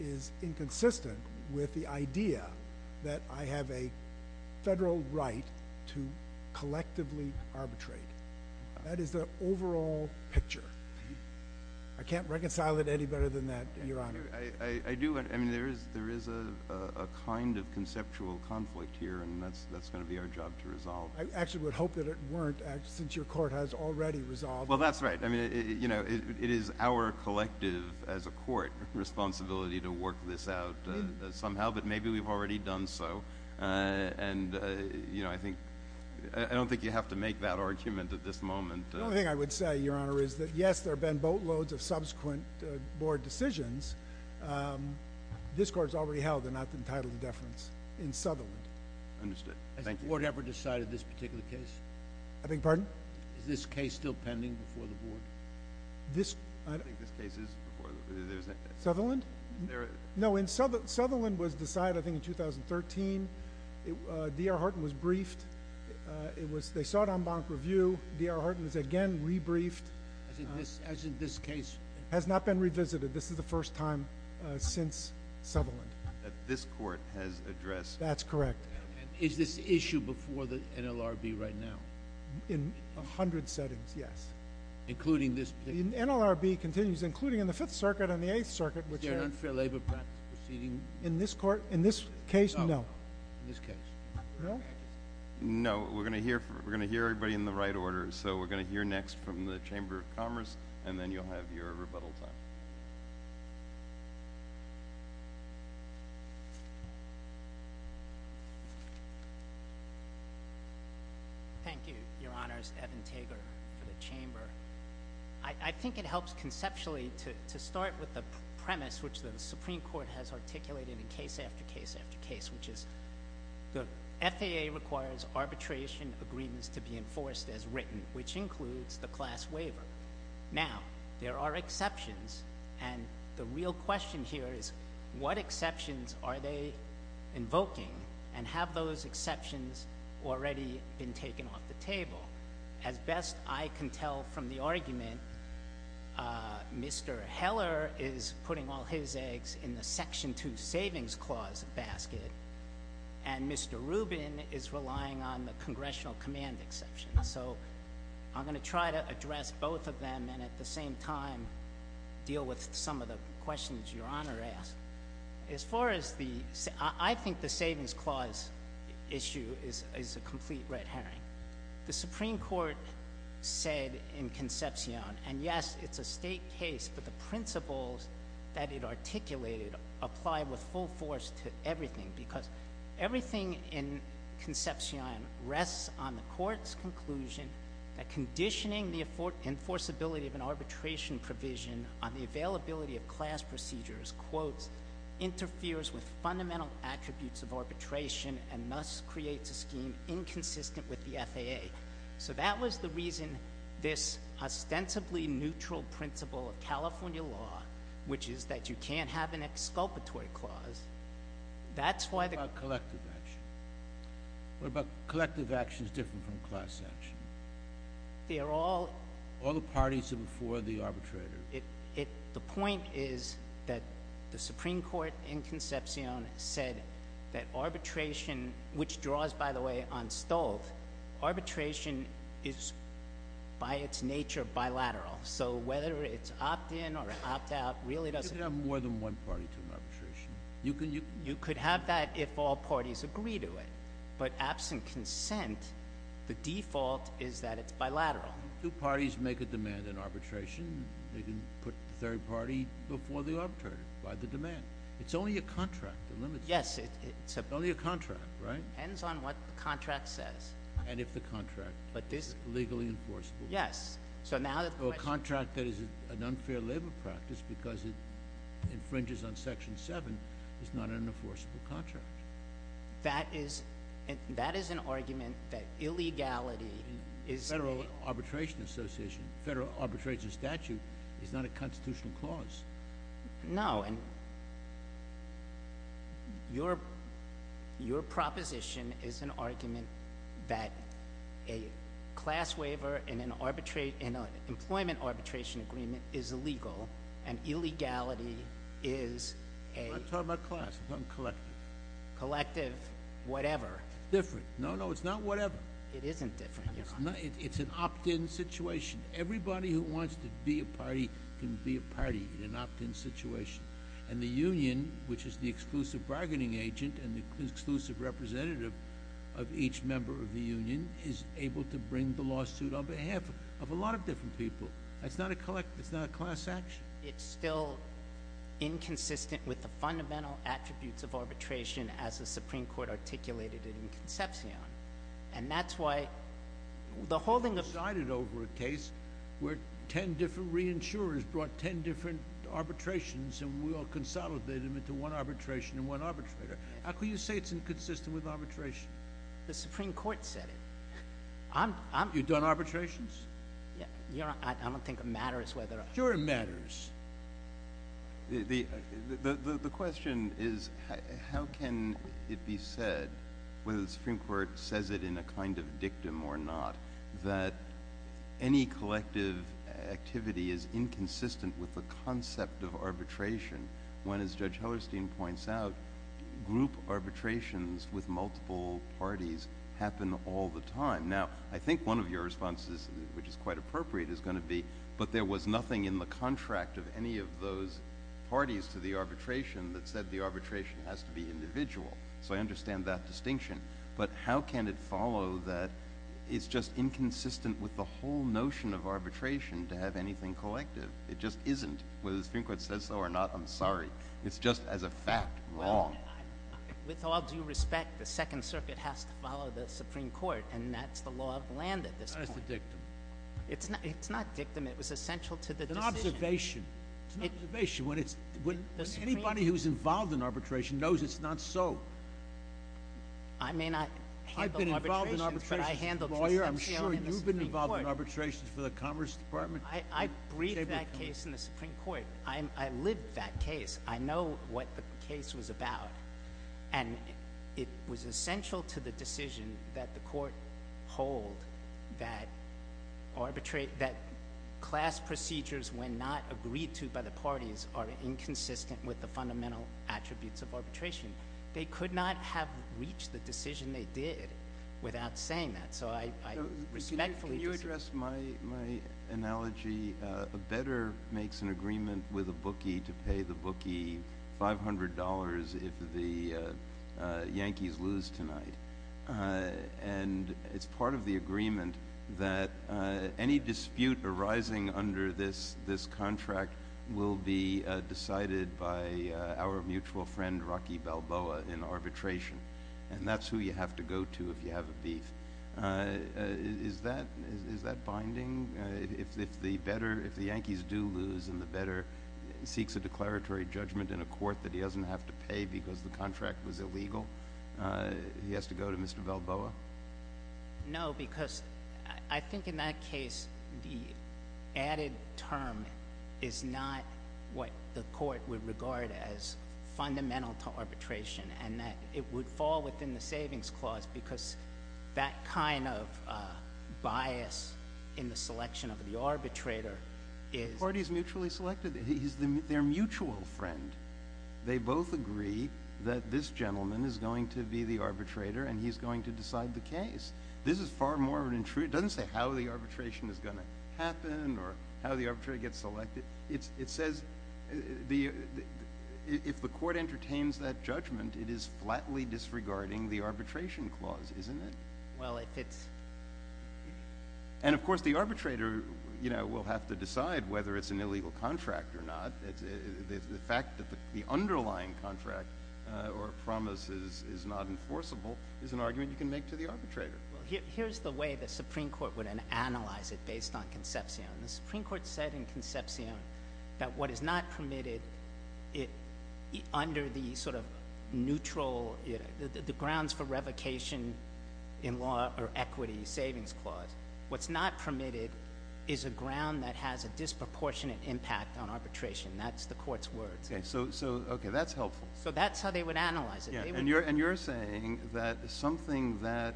is inconsistent with the idea that I have a federal right to collectively arbitrate. That is the overall picture. I can't reconcile it any better than that, Your Honor. I do. I mean, there is a kind of conceptual conflict here, and that's going to be our job to resolve. I actually would hope that it weren't, since your court has already resolved. Well, that's right. I mean, it is our collective, as a court, responsibility to work this out somehow, but maybe we've already done so, and I don't think you have to make that argument at this moment. The only thing I would say, Your Honor, is that, yes, there have been boatloads of subsequent board decisions. This court has already held they're not entitled to deference in Sutherland. Understood. Thank you. Has this court ever decided this particular case? I beg your pardon? Is this case still pending before the board? I don't think this case is before the board. Sutherland? No, Sutherland was decided, I think, in 2013. D.R. Horton was briefed. They sought en banc review. D.R. Horton was again rebriefed. As in this case? Has not been revisited. This is the first time since Sutherland. That this court has addressed? That's correct. Is this issue before the NLRB right now? In a hundred settings, yes. Including this particular case? The NLRB continues, including in the Fifth Circuit and the Eighth Circuit. Is there an unfair labor practice proceeding? In this case, no. In this case. No? No. We're going to hear everybody in the right order, so we're going to hear next from the Chamber of Commerce, and then you'll have your rebuttal time. Thank you, Your Honors. Evan Tager for the Chamber. I think it helps conceptually to start with the premise which the Supreme Court has articulated in case after case after case, which is the FAA requires arbitration agreements to be enforced as written, which includes the class waiver. Now, there are exceptions, and the real question here is what exceptions are they invoking and have those exceptions already been taken off the table? As best I can tell from the argument, Mr. Heller is putting all his eggs in the Section 2 Savings Clause basket, and Mr. Rubin is relying on the Congressional Command Exception. So I'm going to try to address both of them and at the same time deal with some of the questions Your Honor asked. I think the Savings Clause issue is a complete red herring. The Supreme Court said in Concepcion, and yes, it's a state case, but the principles that it articulated apply with full force to everything because everything in Concepcion rests on the Court's conclusion that conditioning the enforceability of an arbitration provision on the availability of class procedures, quote, interferes with fundamental attributes of arbitration and thus creates a scheme inconsistent with the FAA. So that was the reason this ostensibly neutral principle of California law, which is that you can't have an exculpatory clause, that's why the— What about collective action? What about collective action is different from class action? They are all— All the parties are before the arbitrator. The point is that the Supreme Court in Concepcion said that arbitration, which draws, by the way, on Stolt, arbitration is by its nature bilateral. So whether it's opt-in or opt-out really doesn't— You can have more than one party to an arbitration. You could have that if all parties agree to it. But absent consent, the default is that it's bilateral. Two parties make a demand in arbitration. They can put the third party before the arbitrator by the demand. It's only a contract that limits it. Yes. It's only a contract, right? Depends on what the contract says. And if the contract is legally enforceable. Yes. So now the question— A contract that is an unfair labor practice because it infringes on Section 7 is not an enforceable contract. That is an argument that illegality is— The Federal Arbitration Association, Federal Arbitration Statute is not a constitutional clause. No. And your proposition is an argument that a class waiver in an employment arbitration agreement is illegal and illegality is a— I'm talking about class. I'm talking collective. Collective whatever. It's different. No, no, it's not whatever. It isn't different. It's an opt-in situation. Everybody who wants to be a party can be a party in an opt-in situation. And the union, which is the exclusive bargaining agent and the exclusive representative of each member of the union, is able to bring the lawsuit on behalf of a lot of different people. It's not a class action. It's still inconsistent with the fundamental attributes of arbitration as the Supreme Court articulated it in Concepcion. And that's why the holding of— You sided over a case where 10 different reinsurers brought 10 different arbitrations and we all consolidated them into one arbitration and one arbitrator. How can you say it's inconsistent with arbitration? The Supreme Court said it. You've done arbitrations? I don't think it matters whether— Sure it matters. The question is how can it be said, whether the Supreme Court says it in a kind of dictum or not, that any collective activity is inconsistent with the concept of arbitration when, as Judge Hellerstein points out, group arbitrations with multiple parties happen all the time? Now, I think one of your responses, which is quite appropriate, is going to be, but there was nothing in the contract of any of those parties to the arbitration that said the arbitration has to be individual. So I understand that distinction. But how can it follow that it's just inconsistent with the whole notion of arbitration to have anything collective? It just isn't. Whether the Supreme Court says so or not, I'm sorry. It's just, as a fact, wrong. With all due respect, the Second Circuit has to follow the Supreme Court, and that's the law of the land at this point. It's a dictum. It's not dictum. It was essential to the decision. It's an observation. It's an observation. When anybody who's involved in arbitration knows it's not so. I may not have been involved in arbitration, but I handled the Supreme Court. I'm sure you've been involved in arbitrations for the Commerce Department. I briefed that case in the Supreme Court. I lived that case. I know what the case was about. And it was essential to the decision that the court hold that class procedures, when not agreed to by the parties, are inconsistent with the fundamental attributes of arbitration. They could not have reached the decision they did without saying that. Can you address my analogy? A bettor makes an agreement with a bookie to pay the bookie $500 if the Yankees lose tonight. And it's part of the agreement that any dispute arising under this contract will be decided by our mutual friend, Rocky Balboa, in arbitration. And that's who you have to go to if you have a beef. Is that binding? If the Yankees do lose and the bettor seeks a declaratory judgment in a court that he doesn't have to pay because the contract was illegal, he has to go to Mr. Balboa? No, because I think in that case the added term is not what the court would regard as fundamental to arbitration. And that it would fall within the savings clause because that kind of bias in the selection of the arbitrator is— Parties mutually selected. He's their mutual friend. They both agree that this gentleman is going to be the arbitrator and he's going to decide the case. This is far more of an—it doesn't say how the arbitration is going to happen or how the arbitrator gets selected. It says if the court entertains that judgment, it is flatly disregarding the arbitration clause, isn't it? Well, if it's— And, of course, the arbitrator will have to decide whether it's an illegal contract or not. The fact that the underlying contract or promise is not enforceable is an argument you can make to the arbitrator. Here's the way the Supreme Court would analyze it based on Concepcion. The Supreme Court said in Concepcion that what is not permitted under the sort of neutral—the grounds for revocation in law or equity savings clause, what's not permitted is a ground that has a disproportionate impact on arbitration. That's the court's words. Okay. That's helpful. So that's how they would analyze it. And you're saying that something that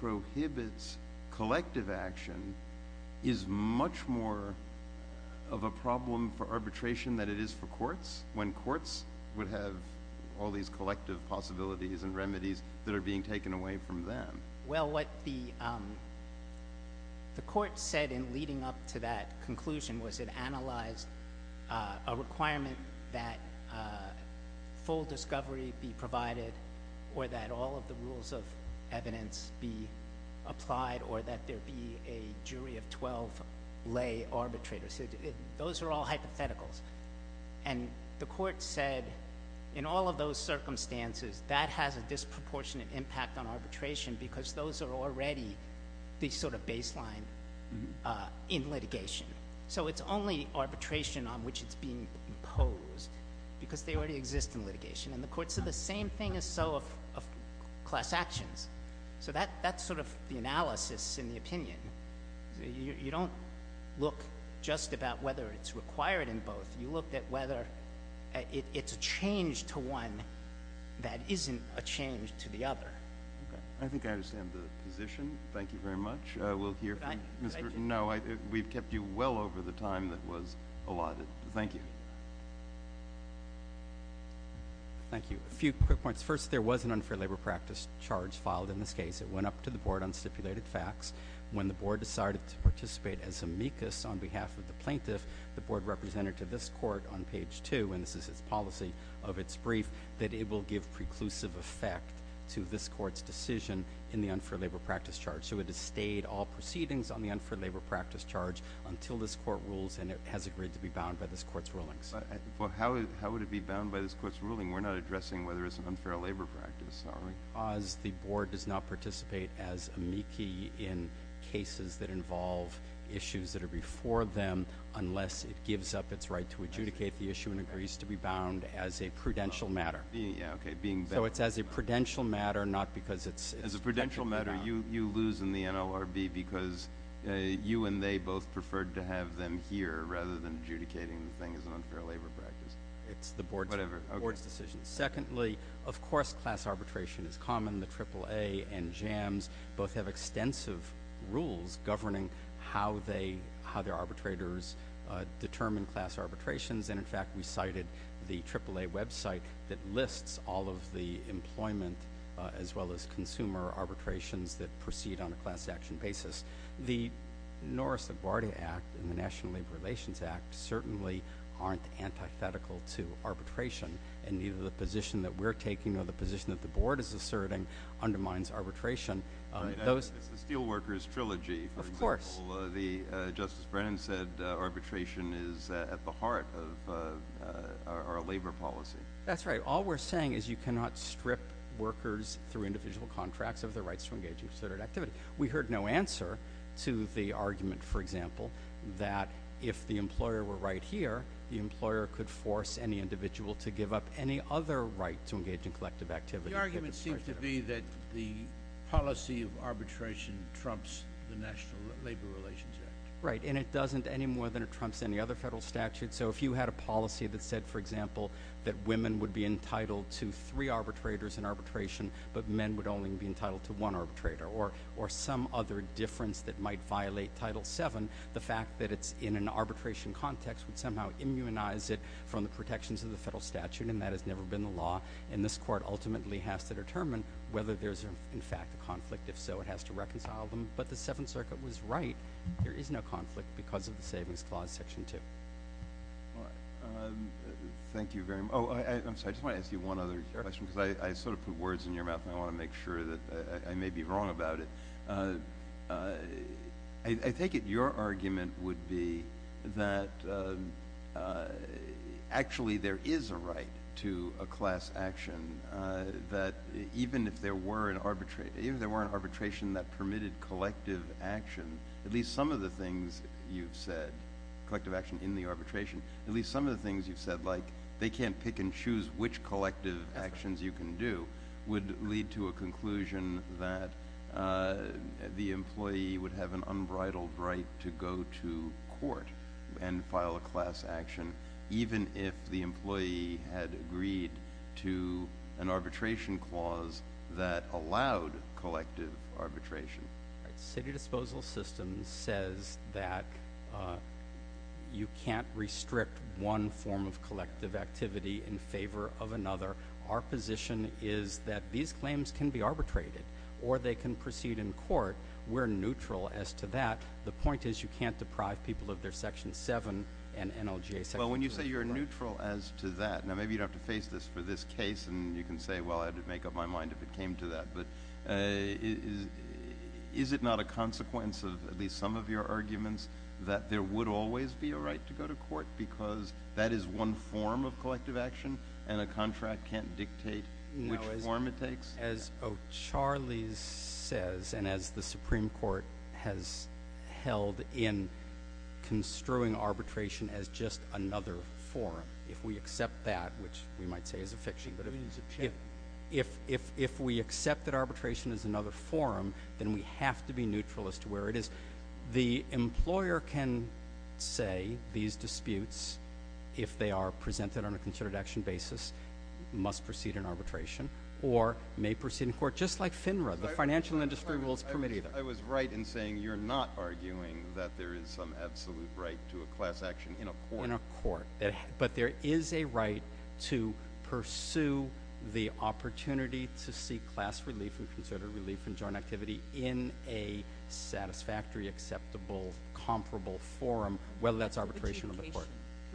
prohibits collective action is much more of a problem for arbitration than it is for courts when courts would have all these collective possibilities and remedies that are being taken away from them. Well, what the court said in leading up to that conclusion was it analyzed a requirement that full discovery be provided or that all of the rules of evidence be applied or that there be a jury of 12 lay arbitrators. Those are all hypotheticals. And the court said in all of those circumstances, that has a disproportionate impact on arbitration because those are already the sort of baseline in litigation. So it's only arbitration on which it's being imposed because they already exist in litigation. And the courts said the same thing is so of class actions. So that's sort of the analysis in the opinion. You don't look just about whether it's required in both. You look at whether it's a change to one that isn't a change to the other. Okay. I think I understand the position. Thank you very much. We'll hear from Mr. No, we've kept you well over the time that was allotted. Thank you. Thank you. A few quick points. First, there was an unfair labor practice charge filed in this case. It went up to the board on stipulated facts. When the board decided to participate as amicus on behalf of the plaintiff, the board represented to this court on page 2, and this is its policy of its brief, that it will give preclusive effect to this court's decision in the unfair labor practice charge. So it has stayed all proceedings on the unfair labor practice charge until this court rules, and it has agreed to be bound by this court's rulings. Well, how would it be bound by this court's ruling? We're not addressing whether it's an unfair labor practice, are we? Because the board does not participate as amicus in cases that involve issues that are before them unless it gives up its right to adjudicate the issue and agrees to be bound as a prudential matter. Yeah, okay, being bound. So it's as a prudential matter, not because it's technically bound. As a prudential matter, you lose in the NLRB because you and they both preferred to have them here rather than adjudicating the thing as an unfair labor practice. It's the board's decision. Whatever. Okay. Secondly, of course, class arbitration is common. The AAA and JAMS both have extensive rules governing how their arbitrators determine class arbitrations. And, in fact, we cited the AAA website that lists all of the employment as well as consumer arbitrations that proceed on a class action basis. The Norris LaGuardia Act and the National Labor Relations Act certainly aren't antithetical to arbitration. And neither the position that we're taking nor the position that the board is asserting undermines arbitration. Right. It's the Steelworkers Trilogy, for example. Of course. Justice Brennan said arbitration is at the heart of our labor policy. That's right. All we're saying is you cannot strip workers through individual contracts of their rights to engage in considered activity. We heard no answer to the argument, for example, that if the employer were right here, the employer could force any individual to give up any other right to engage in collective activity. The argument seems to be that the policy of arbitration trumps the National Labor Relations Act. Right. And it doesn't any more than it trumps any other federal statute. So if you had a policy that said, for example, that women would be entitled to three arbitrators in arbitration but men would only be entitled to one arbitrator or some other difference that might violate Title VII, the fact that it's in an arbitration context would somehow immunize it from the protections of the federal statute. And that has never been the law. And this court ultimately has to determine whether there's, in fact, a conflict. If so, it has to reconcile them. But the Seventh Circuit was right. There is no conflict because of the Savings Clause, Section 2. Thank you very much. Oh, I'm sorry. I just want to ask you one other question because I sort of put words in your mouth and I want to make sure that I may be wrong about it. I take it your argument would be that actually there is a right to a class action, that even if there were an arbitration that permitted collective action, at least some of the things you've said, collective action in the arbitration, at least some of the things you've said, like, they can't pick and choose which collective actions you can do, would lead to a conclusion that the employee would have an unbridled right to go to court and file a class action, even if the employee had agreed to an arbitration clause that allowed collective arbitration. City Disposal System says that you can't restrict one form of collective activity in favor of another. Our position is that these claims can be arbitrated or they can proceed in court. We're neutral as to that. The point is you can't deprive people of their Section 7 and NLGA Sections. Well, when you say you're neutral as to that, now, maybe you'd have to face this for this case, and you can say, well, I'd make up my mind if it came to that. But is it not a consequence of at least some of your arguments that there would always be a right to go to court because that is one form of collective action and a contract can't dictate which form it takes? As O'Charley says and as the Supreme Court has held in construing arbitration as just another form, if we accept that, which we might say is a fiction, but if we accept that arbitration is another form, then we have to be neutral as to where it is. The employer can say these disputes, if they are presented on a considered action basis, must proceed in arbitration or may proceed in court, just like FINRA, the Financial Industry Rules Permit. I was right in saying you're not arguing that there is some absolute right to a class action in a court. But there is a right to pursue the opportunity to seek class relief and concerted relief and joint activity in a satisfactory, acceptable, comparable forum, whether that's arbitration or the court.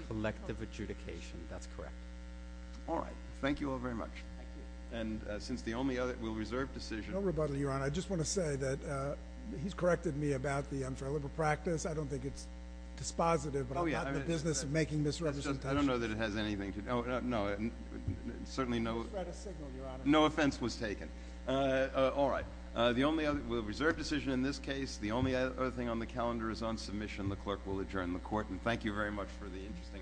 Collective adjudication. Collective adjudication, that's correct. All right. Thank you all very much. Thank you. And since the only other – we'll reserve decision. No rebuttal, Your Honor. I just want to say that he's corrected me about the unfair labor practice. I don't think it's dispositive, but I'm not in the business of making misrepresentations. I don't know that it has anything to do – no, certainly no – You spread a signal, Your Honor. No offense was taken. All right. The only other – we'll reserve decision in this case. The only other thing on the calendar is on submission. The clerk will adjourn the court. And thank you very much for the interesting argument.